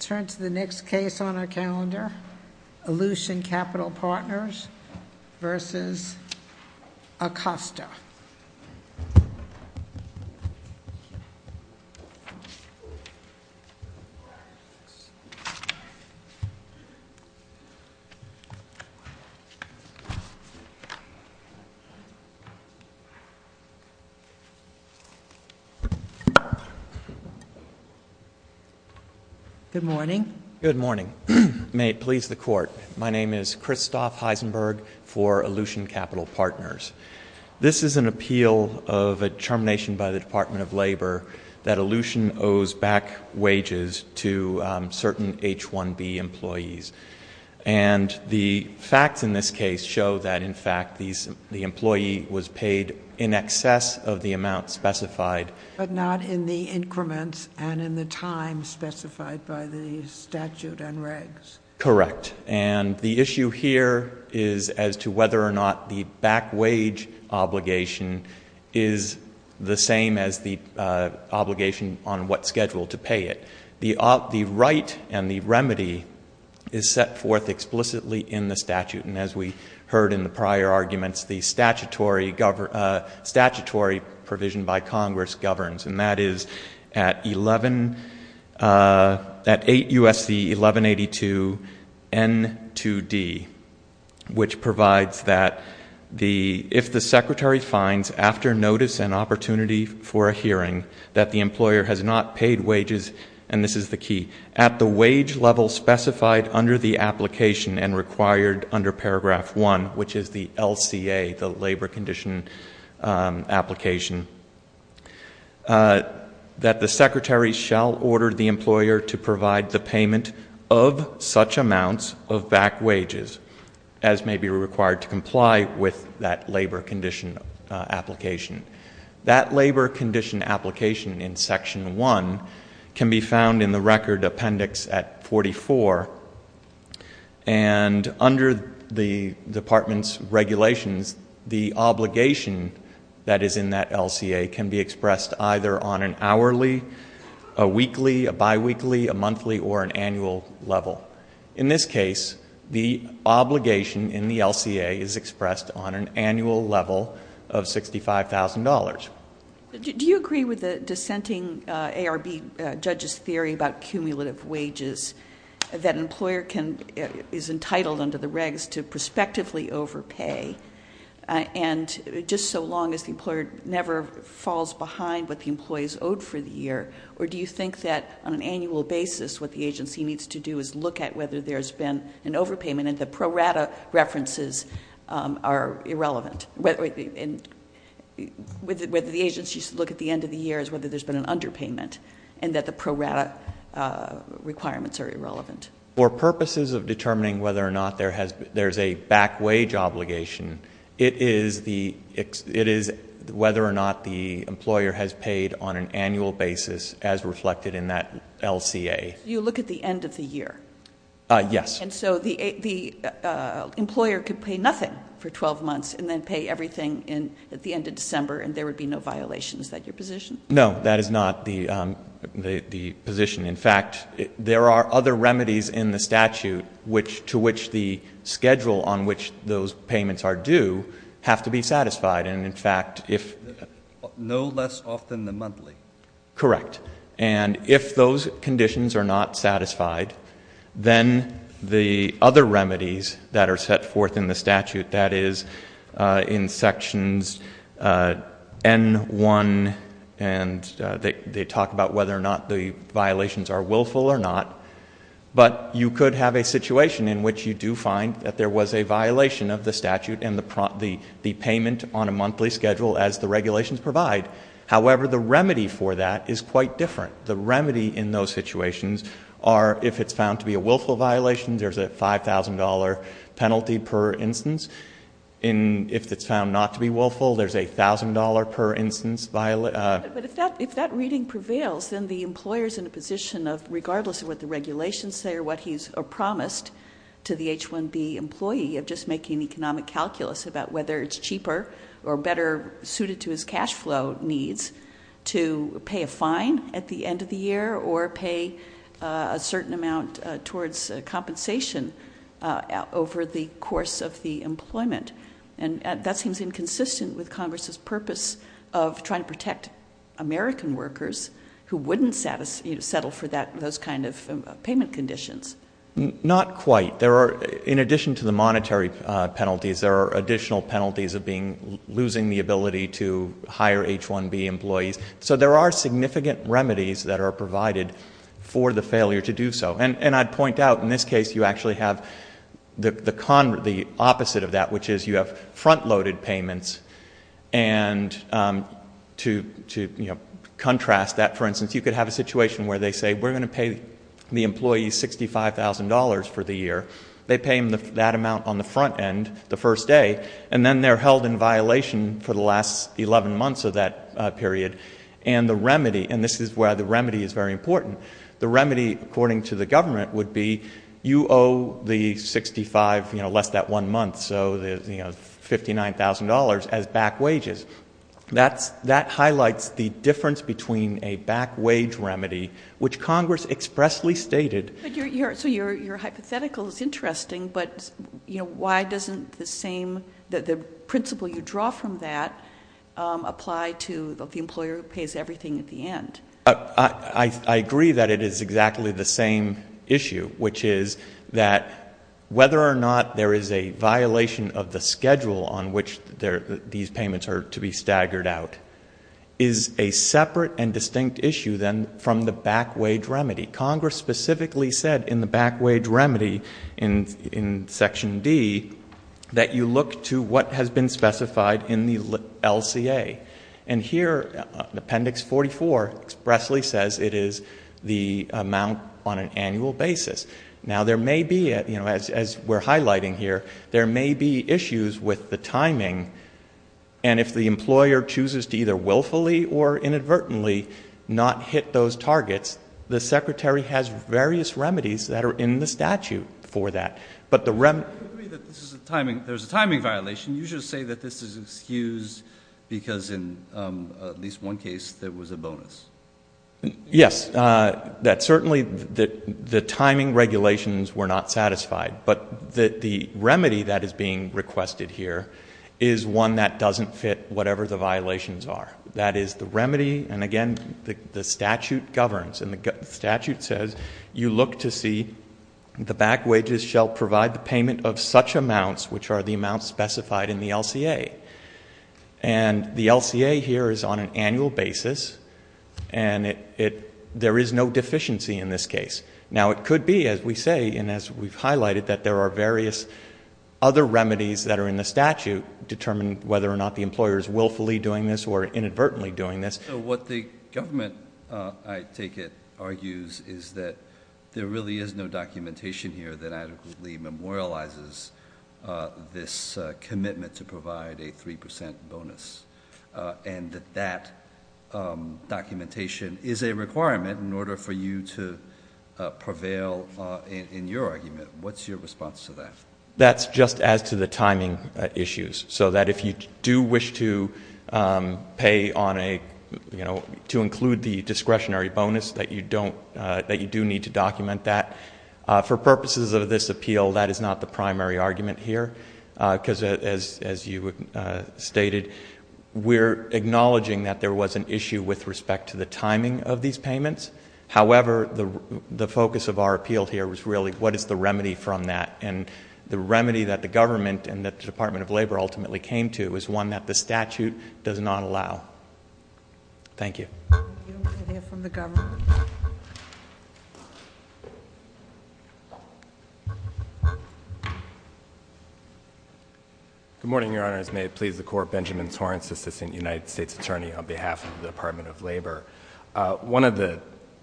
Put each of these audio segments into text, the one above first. Turn to the next case on our calendar, Aleutian Capital Partners v. Acosta. Good morning. Good morning. May it please the Court, my name is Christoph Heisenberg for Aleutian Capital Partners. This is an appeal of a termination by the Department of Labor that Aleutian owes back wages to certain H-1B employees. And the facts in this case show that, in fact, the employee was paid in excess of the amount specified. But not in the increments and in the time specified by the statute and regs. Correct. And the issue here is as to whether or not the back wage obligation is the same as the obligation on what schedule to pay it. The right and the remedy is set forth explicitly in the statute. And as we heard in the prior arguments, the statutory provision by Congress governs. And that is at 8 U.S.C. 1182 N2D, which provides that if the secretary finds, after notice and opportunity for a hearing, that the employer has not paid wages, and this is the key, at the wage level specified under the application and required under paragraph 1, which is the LCA, the labor condition application, that the secretary shall order the employer to provide the payment of such amounts of back wages as may be required to comply with that labor condition application. That labor condition application in section 1 can be found in the record appendix at 44. And under the department's regulations, the obligation that is in that LCA can be expressed either on an hourly, a weekly, a biweekly, a monthly, or an annual level. In this case, the obligation in the LCA is expressed on an annual level of $65,000. Do you agree with the dissenting ARB judge's theory about cumulative wages, that an employer is entitled under the regs to prospectively overpay, and just so long as the employer never falls behind what the employees owed for the year, or do you think that on an annual basis what the agency needs to do is look at whether there's been an overpayment and the pro rata references are irrelevant, whether the agency should look at the end of the year as whether there's been an underpayment, and that the pro rata requirements are irrelevant? For purposes of determining whether or not there's a back wage obligation, it is whether or not the employer has paid on an annual basis as reflected in that LCA. You look at the end of the year? Yes. And so the employer could pay nothing for 12 months and then pay everything at the end of December and there would be no violations, is that your position? No, that is not the position. In fact, there are other remedies in the statute to which the schedule on which those payments are due have to be satisfied, and in fact, if- No less often than monthly. Correct. And if those conditions are not satisfied, then the other remedies that are set forth in the statute, that is in sections N1 and they talk about whether or not the violations are willful or not, but you could have a situation in which you do find that there was a violation of the statute and the payment on a monthly schedule as the regulations provide. However, the remedy for that is quite different. The remedy in those situations are if it's found to be a willful violation, there's a $5,000 penalty per instance. If it's found not to be willful, there's a $1,000 per instance- But if that reading prevails, then the employer's in a position of regardless of what the regulations say or what he's promised to the H-1B employee of just making economic calculus about whether it's cheaper or better suited to his cash flow needs to pay a fine at the end of the year or pay a certain amount towards compensation over the course of the employment. And that seems inconsistent with Congress's purpose of trying to protect American workers who wouldn't settle for that- those kind of payment conditions. Not quite. In addition to the monetary penalties, there are additional penalties of losing the ability to hire H-1B employees. So there are significant remedies that are provided for the failure to do so. And I'd point out, in this case, you actually have the opposite of that, which is you have front-loaded payments and to contrast that, for instance, you could have a situation where they say, we're going to pay the employee $65,000 for the year. They pay him that amount on the front end the first day, and then they're held in violation for the last 11 months of that period. And the remedy- and this is where the remedy is very important- the remedy, according to the government, would be you owe the 65, you know, less that one month, so $59,000 as back wages. That highlights the difference between a back-wage remedy, which Congress expressly stated- So your hypothetical is interesting, but, you know, why doesn't the same- the principle you draw from that apply to the employer who pays everything at the end? I agree that it is exactly the same issue, which is that whether or not there is a violation of the schedule on which these payments are to be staggered out is a separate and distinct issue, then, from the back-wage remedy. Congress specifically said in the back-wage remedy in Section D that you look to what has been specified in the LCA. And here, Appendix 44 expressly says it is the amount on an annual basis. Now there may be, you know, as we're highlighting here, there may be issues with the timing, and if the employer chooses to either willfully or inadvertently not hit those targets, the Secretary has various remedies that are in the statute for that. But the remedy- I agree that this is a timing- there's a timing violation. You should say that this is excused because in at least one case there was a bonus. Yes, that certainly- the timing regulations were not satisfied. But the remedy that is being requested here is one that doesn't fit whatever the violations are. That is the remedy- and again, the statute governs, and the statute says you look to see the back wages shall provide the payment of such amounts which are the amounts specified in the LCA. And the LCA here is on an annual basis, and there is no deficiency in this case. Now it could be, as we say, and as we've highlighted, that there are various other remedies that are in the statute to determine whether or not the employer is willfully doing this or inadvertently doing this. What the government, I take it, argues is that there really is no documentation here that adequately memorializes this commitment to provide a 3% bonus, and that that documentation is a requirement in order for you to prevail in your argument. What's your response to that? That's just as to the timing issues. So that if you do wish to pay on a- to include the discretionary bonus, that you do need to document that. For purposes of this appeal, that is not the primary argument here, because as you stated, we're acknowledging that there was an issue with respect to the timing of these payments. However, the focus of our appeal here was really, what is the remedy from that? And the remedy that the government and that the Department of Labor ultimately came to is one that the statute does not allow. Thank you. Thank you. We're going to hear from the government. Good morning, Your Honors. May it please the Court, Benjamin Torrence, Assistant United States Attorney on behalf of the Department of Labor. One of the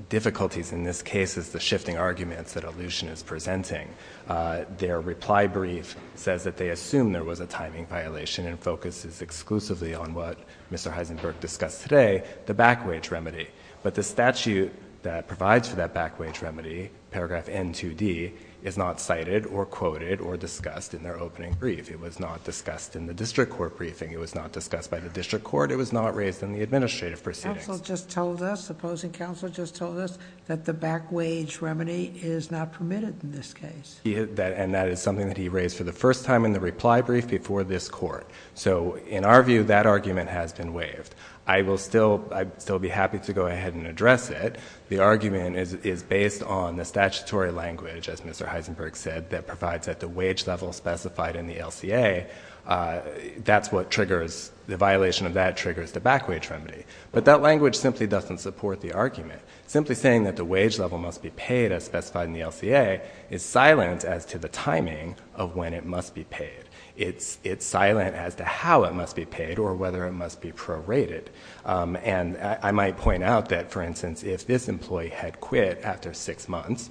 difficulties in this case is the shifting arguments that Aleutian is presenting. Their reply brief says that they assume there was a timing violation and focuses exclusively on what Mr. Heisenberg discussed today. The back-wage remedy. But the statute that provides for that back-wage remedy, paragraph N2D, is not cited or quoted or discussed in their opening brief. It was not discussed in the district court briefing. It was not discussed by the district court. It was not raised in the administrative proceedings. Counsel just told us, the opposing counsel just told us that the back-wage remedy is not permitted in this case. And that is something that he raised for the first time in the reply brief before this court. So, in our view, that argument has been waived. I will still be happy to go ahead and address it. The argument is based on the statutory language, as Mr. Heisenberg said, that provides that the wage level specified in the LCA, that's what triggers, the violation of that triggers the back-wage remedy. But that language simply doesn't support the argument. Simply saying that the wage level must be paid as specified in the LCA is silent as to the timing of when it must be paid. It's silent as to how it must be paid or whether it must be prorated. And I might point out that, for instance, if this employee had quit after six months,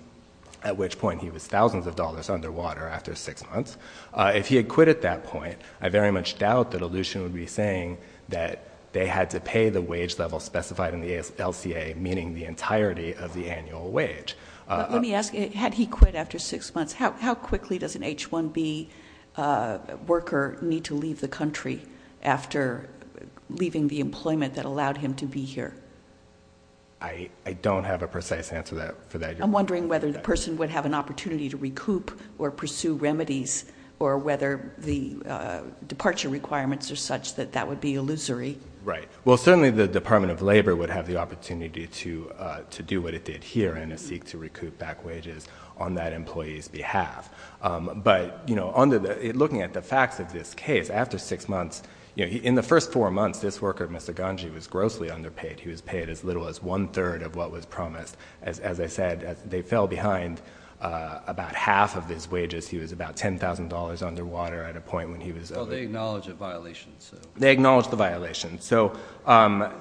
at which point he was thousands of dollars underwater after six months, if he had quit at that point, I very much doubt that Aleutian would be saying that they had to pay the wage level specified in the LCA, meaning the entirety of the annual wage. But let me ask, had he quit after six months, how quickly does an H-1B worker need to leave the country after leaving the employment that allowed him to be here? I don't have a precise answer for that. I'm wondering whether the person would have an opportunity to recoup or pursue remedies or whether the departure requirements are such that that would be illusory. Right. Well, certainly the Department of Labor would have the opportunity to do what it did here in a seek to recoup back wages on that employee's behalf. But looking at the facts of this case, after six months, in the first four months, this worker, Mr. Ganji, was grossly underpaid. He was paid as little as one-third of what was promised. As I said, they fell behind about half of his wages. He was about $10,000 underwater at a point when he was over. Well, they acknowledge the violations. They acknowledge the violations. So—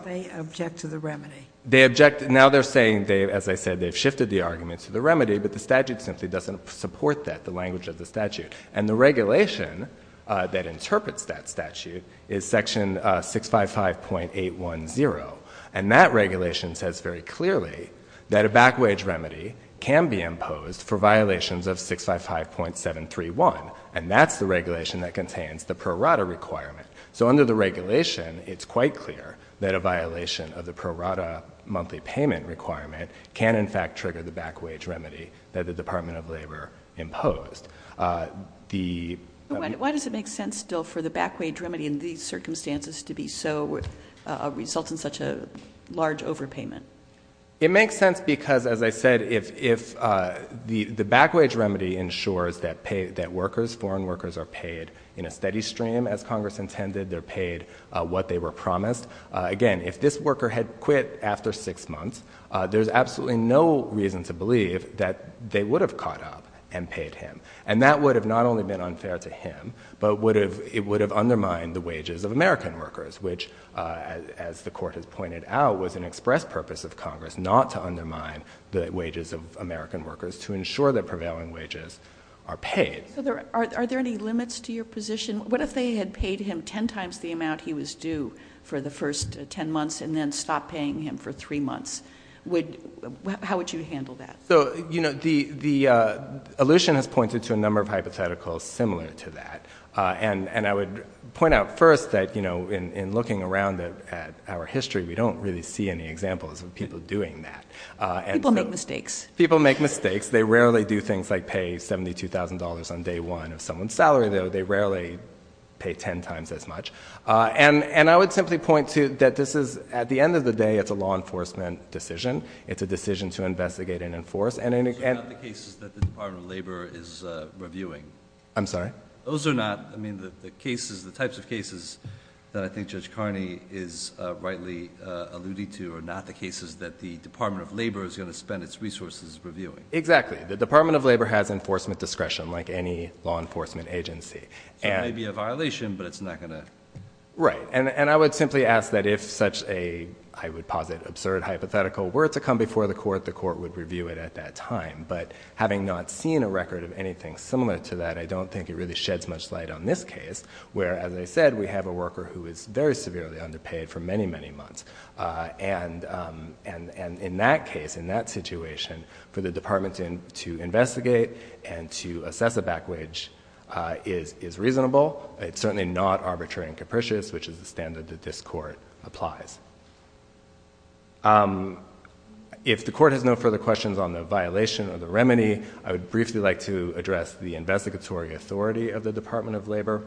They object to the remedy. They object. Now they're saying, as I said, they've shifted the argument to the remedy, but the statute simply doesn't support that, the language of the statute. And the regulation that interprets that statute is section 655.810. And that regulation says very clearly that a back-wage remedy can be imposed for violations of 655.731. And that's the regulation that contains the prorata requirement. So under the regulation, it's quite clear that a violation of the prorata monthly payment requirement can, in fact, trigger the back-wage remedy that the Department of Labor imposed. The— Why does it make sense still for the back-wage remedy in these circumstances to be so— result in such a large overpayment? It makes sense because, as I said, if the back-wage remedy ensures that workers, foreign workers, are paid what they were promised, again, if this worker had quit after six months, there's absolutely no reason to believe that they would have caught up and paid him. And that would have not only been unfair to him, but it would have undermined the wages of American workers, which, as the Court has pointed out, was an express purpose of Congress not to undermine the wages of American workers, to ensure that prevailing wages are paid. Are there any limits to your position? What if they had paid him 10 times the amount he was due for the first 10 months and then stopped paying him for three months? How would you handle that? So, you know, the— Aleutian has pointed to a number of hypotheticals similar to that. And I would point out first that, you know, in looking around at our history, we don't really see any examples of people doing that. People make mistakes. People make mistakes. They rarely do things like pay $72,000 on day one of someone's salary. They rarely pay 10 times as much. And I would simply point to that this is—at the end of the day, it's a law enforcement decision. It's a decision to investigate and enforce. And— So not the cases that the Department of Labor is reviewing? I'm sorry? Those are not—I mean, the cases, the types of cases that I think Judge Carney is rightly alluding to are not the cases that the Department of Labor is going to spend its resources reviewing? Exactly. The Department of Labor has enforcement discretion, like any law enforcement agency. So it may be a violation, but it's not going to— Right. And I would simply ask that if such a, I would posit, absurd hypothetical were to come before the court, the court would review it at that time. But having not seen a record of anything similar to that, I don't think it really sheds much light on this case, where, as I said, we have a worker who is very severely underpaid for many, many months. And in that case, in that situation, for the department to investigate and to assess a back wage is reasonable. It's certainly not arbitrary and capricious, which is the standard that this court applies. If the court has no further questions on the violation or the remedy, I would briefly like to address the investigatory authority of the Department of Labor.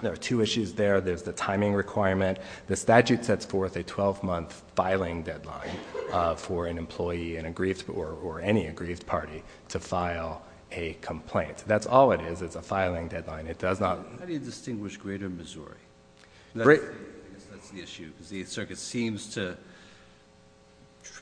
There are two issues there. There's the timing requirement. The statute sets forth a 12-month filing deadline for an employee in a grief or any aggrieved party to file a complaint. That's all it is. It's a filing deadline. It does not— How do you distinguish greater Missouri? That's the issue, because the circuit seems to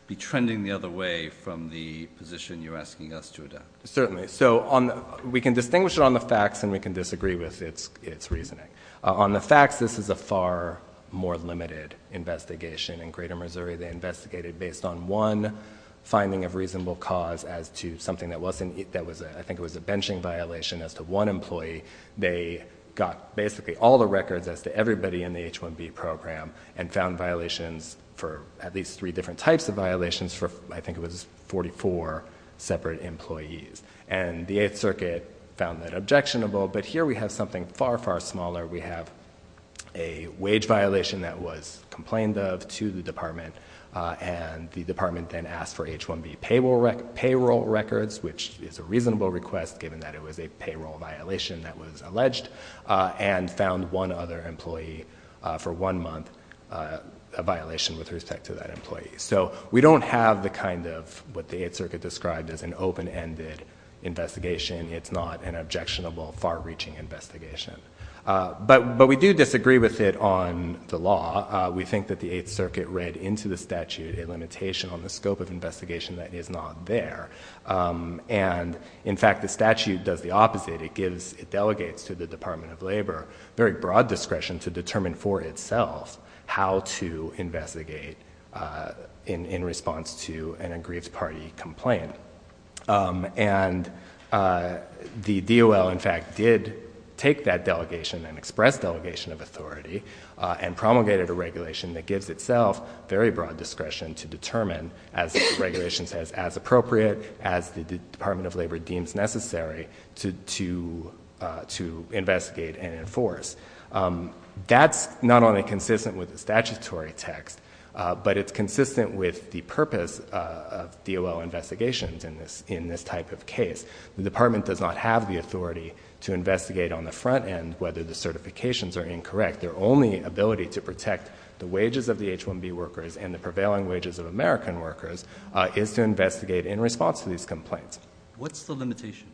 be trending the other way from the position you're asking us to adapt. Certainly. So we can distinguish it on the facts, and we can disagree with its reasoning. On the facts, this is a far more limited investigation. In greater Missouri, they investigated based on one finding of reasonable cause as to something that wasn't—I think it was a benching violation as to one employee. They got basically all the records as to everybody in the H-1B program and found violations for at least three different types of violations for, I think it was, 44 separate employees. And the Eighth Circuit found that objectionable. But here we have something far, far smaller. We have a wage violation that was complained of to the department, and the department then asked for H-1B payroll records, which is a reasonable request given that it was a payroll violation that was alleged, and found one other employee for one month a violation with respect to that employee. So we don't have the kind of what the Eighth Circuit described as an open-ended investigation. It's not an objectionable, far-reaching investigation. But we do disagree with it on the law. We think that the Eighth Circuit read into the statute a limitation on the scope of investigation that is not there. And in fact, the statute does the opposite. It gives—it delegates to the Department of Labor very broad discretion to determine for itself how to investigate in response to an aggrieved party complaint. And the DOL, in fact, did take that delegation, an express delegation of authority, and promulgated a regulation that gives itself very broad discretion to determine, as the regulation says, as appropriate, as the Department of Labor deems necessary to investigate and enforce. That's not only consistent with the statutory text, but it's consistent with the purpose of DOL investigations in this type of case. The Department does not have the authority to investigate on the front end whether the certifications are incorrect. Their only ability to protect the wages of the H-1B workers and the prevailing wages of American workers is to investigate in response to these complaints. What's the limitation?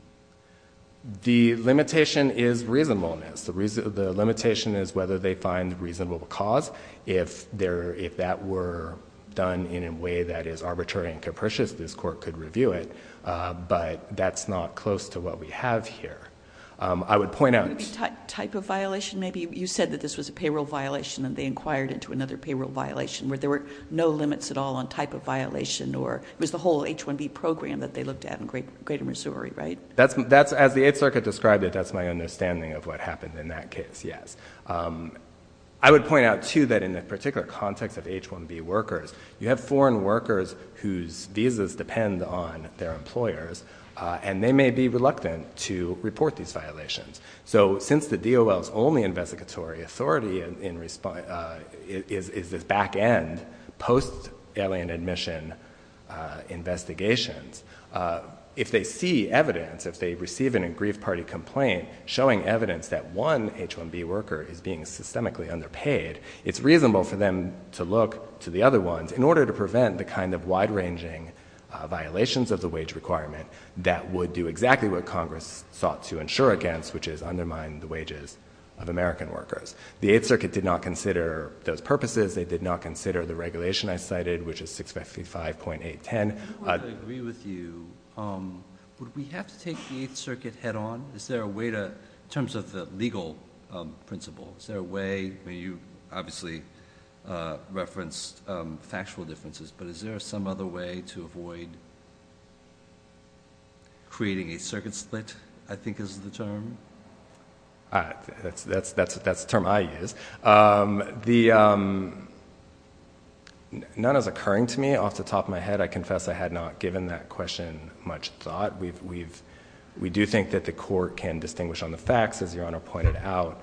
The limitation is reasonableness. The limitation is whether they find reasonable cause. If there—if that were done in a way that is arbitrary and capricious, this court could review it, but that's not close to what we have here. I would point out— Would it be type of violation, maybe? You said that this was a payroll violation, and they inquired into another payroll violation where there were no limits at all on type of violation, or it was the whole H-1B program that they looked at in greater Missouri, right? As the Eighth Circuit described it, that's my understanding of what happened in that case, yes. I would point out, too, that in the particular context of H-1B workers, you have foreign workers whose visas depend on their employers, and they may be reluctant to report these violations. So, since the DOL's only investigatory authority is this back-end, post-alien admission investigations, if they see evidence—if they receive an aggrieved party complaint showing evidence that one H-1B worker is being systemically underpaid, it's reasonable for them to look to the other ones in order to prevent the kind of wide-ranging violations of the wage requirement that would do exactly what Congress sought to insure against, which is undermine the wages of American workers. The Eighth Circuit did not consider those purposes. They did not consider the regulation I cited, which is 655.810. I don't want to agree with you. Would we have to take the Eighth Circuit head-on? In terms of the legal principle, is there a way—I mean, you obviously referenced factual differences, but is there some other way to avoid creating a circuit split, I think is the term? That's the term I use. None is occurring to me. Off the top of my head, I confess I had not given that question much thought. We do think that the court can distinguish on the facts, as Your Honor pointed out,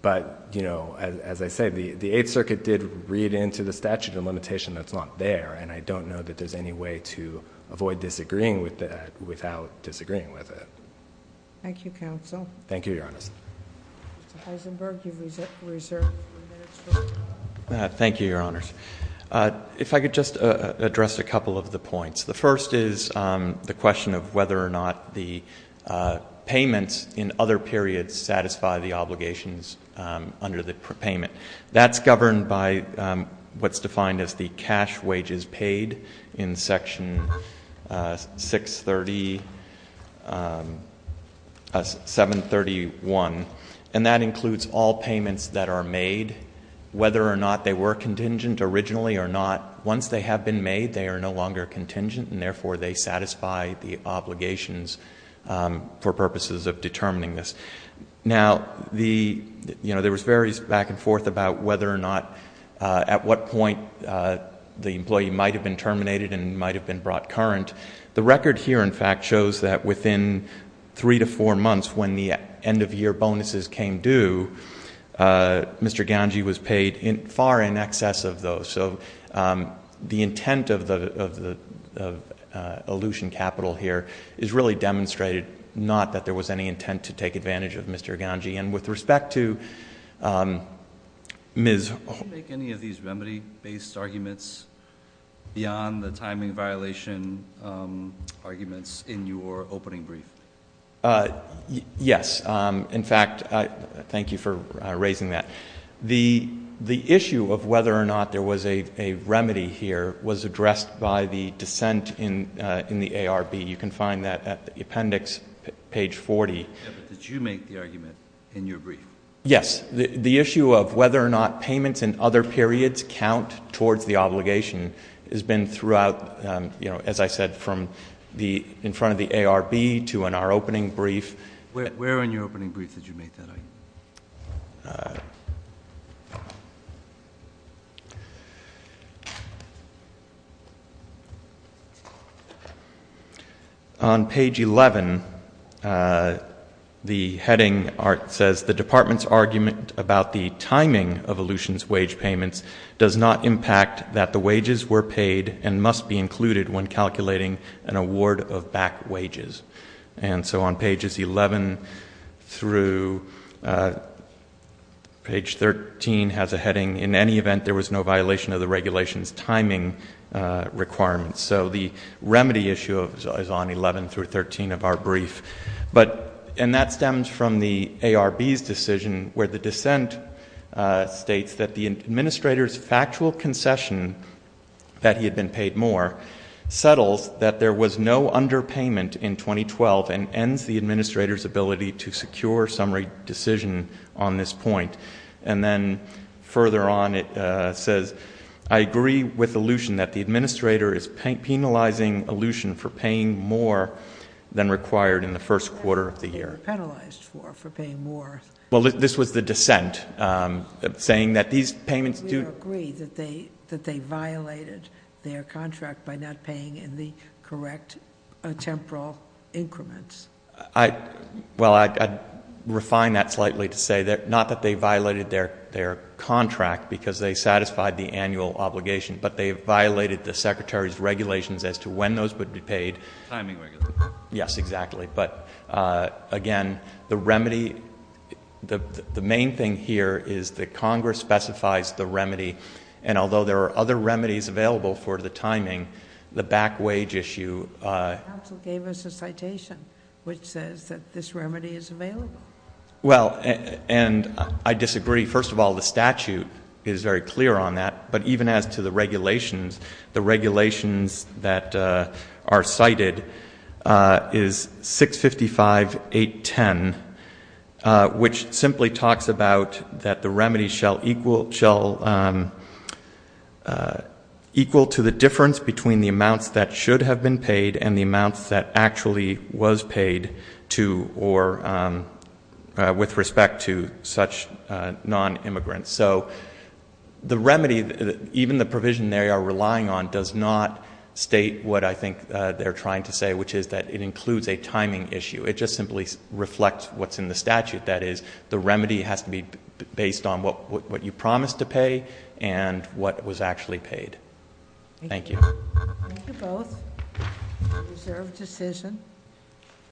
but as I said, the Eighth Circuit did read into the statute a limitation that's not there, and I don't know that there's any way to avoid disagreeing with that without disagreeing with it. Thank you, counsel. Thank you, Your Honor. Mr. Heisenberg, you've reserved three minutes for rebuttal. Thank you, Your Honors. If I could just address a couple of the points. The first is the question of whether or not the payments in other periods satisfy the obligations under the payment. That's governed by what's defined as the cash wages paid in Section 630—731, and that originally are not—once they have been made, they are no longer contingent, and therefore they satisfy the obligations for purposes of determining this. Now, there was various back and forth about whether or not—at what point the employee might have been terminated and might have been brought current. The record here, in fact, shows that within three to four months, when the end-of-year bonuses came due, Mr. Ganji was paid far in excess of those. So the intent of the elution capital here is really demonstrated not that there was any intent to take advantage of Mr. Ganji. And with respect to Ms.— Did she make any of these remedy-based arguments beyond the timing violation arguments in your opening brief? Yes. In fact, thank you for raising that. The issue of whether or not there was a remedy here was addressed by the dissent in the ARB. You can find that at the appendix, page 40. Yes, but did you make the argument in your brief? Yes. The issue of whether or not payments in other periods count towards the obligation has been throughout—as I said, from in front of the ARB to in our opening brief. Where in your opening brief did you make that argument? On page 11, the heading says, the Department's argument about the timing of elution's wage payments does not impact that the wages were paid and must be included when calculating an award of back wages. And so on pages 11 through—page 13 has a heading, in any event, there was no violation of the regulation's timing requirements. So the remedy issue is on 11 through 13 of our brief. But—and that stems from the ARB's decision where the dissent states that the administrator's factual concession that he had been paid more settles that there was no underpayment in 2012 and ends the administrator's ability to secure summary decision on this point. And then further on it says, I agree with elution that the administrator is penalizing elution for paying more than required in the first quarter of the year. What was that being penalized for, for paying more? Well, this was the dissent saying that these payments do— I—well, I'd refine that slightly to say that—not that they violated their contract because they satisfied the annual obligation, but they violated the secretary's regulations as to when those would be paid. Timing regulations. Yes, exactly. But again, the remedy—the main thing here is that Congress specifies the remedy. And although there are other remedies available for the timing, the back wage issue— The council gave us a citation which says that this remedy is available. Well, and I disagree. First of all, the statute is very clear on that. But even as to the regulations, the regulations that are cited is 655.810, which simply talks about that the remedy shall equal to the difference between the amounts that should have been paid and the amounts that actually was paid to—or with respect to such non-immigrants. So the remedy, even the provision they are relying on, does not state what I think they're trying to say, which is that it includes a timing issue. It just simply reflects what's in the statute. That is, the remedy has to be based on what you promised to pay and what was actually paid. Thank you. Thank you both. I reserve decision.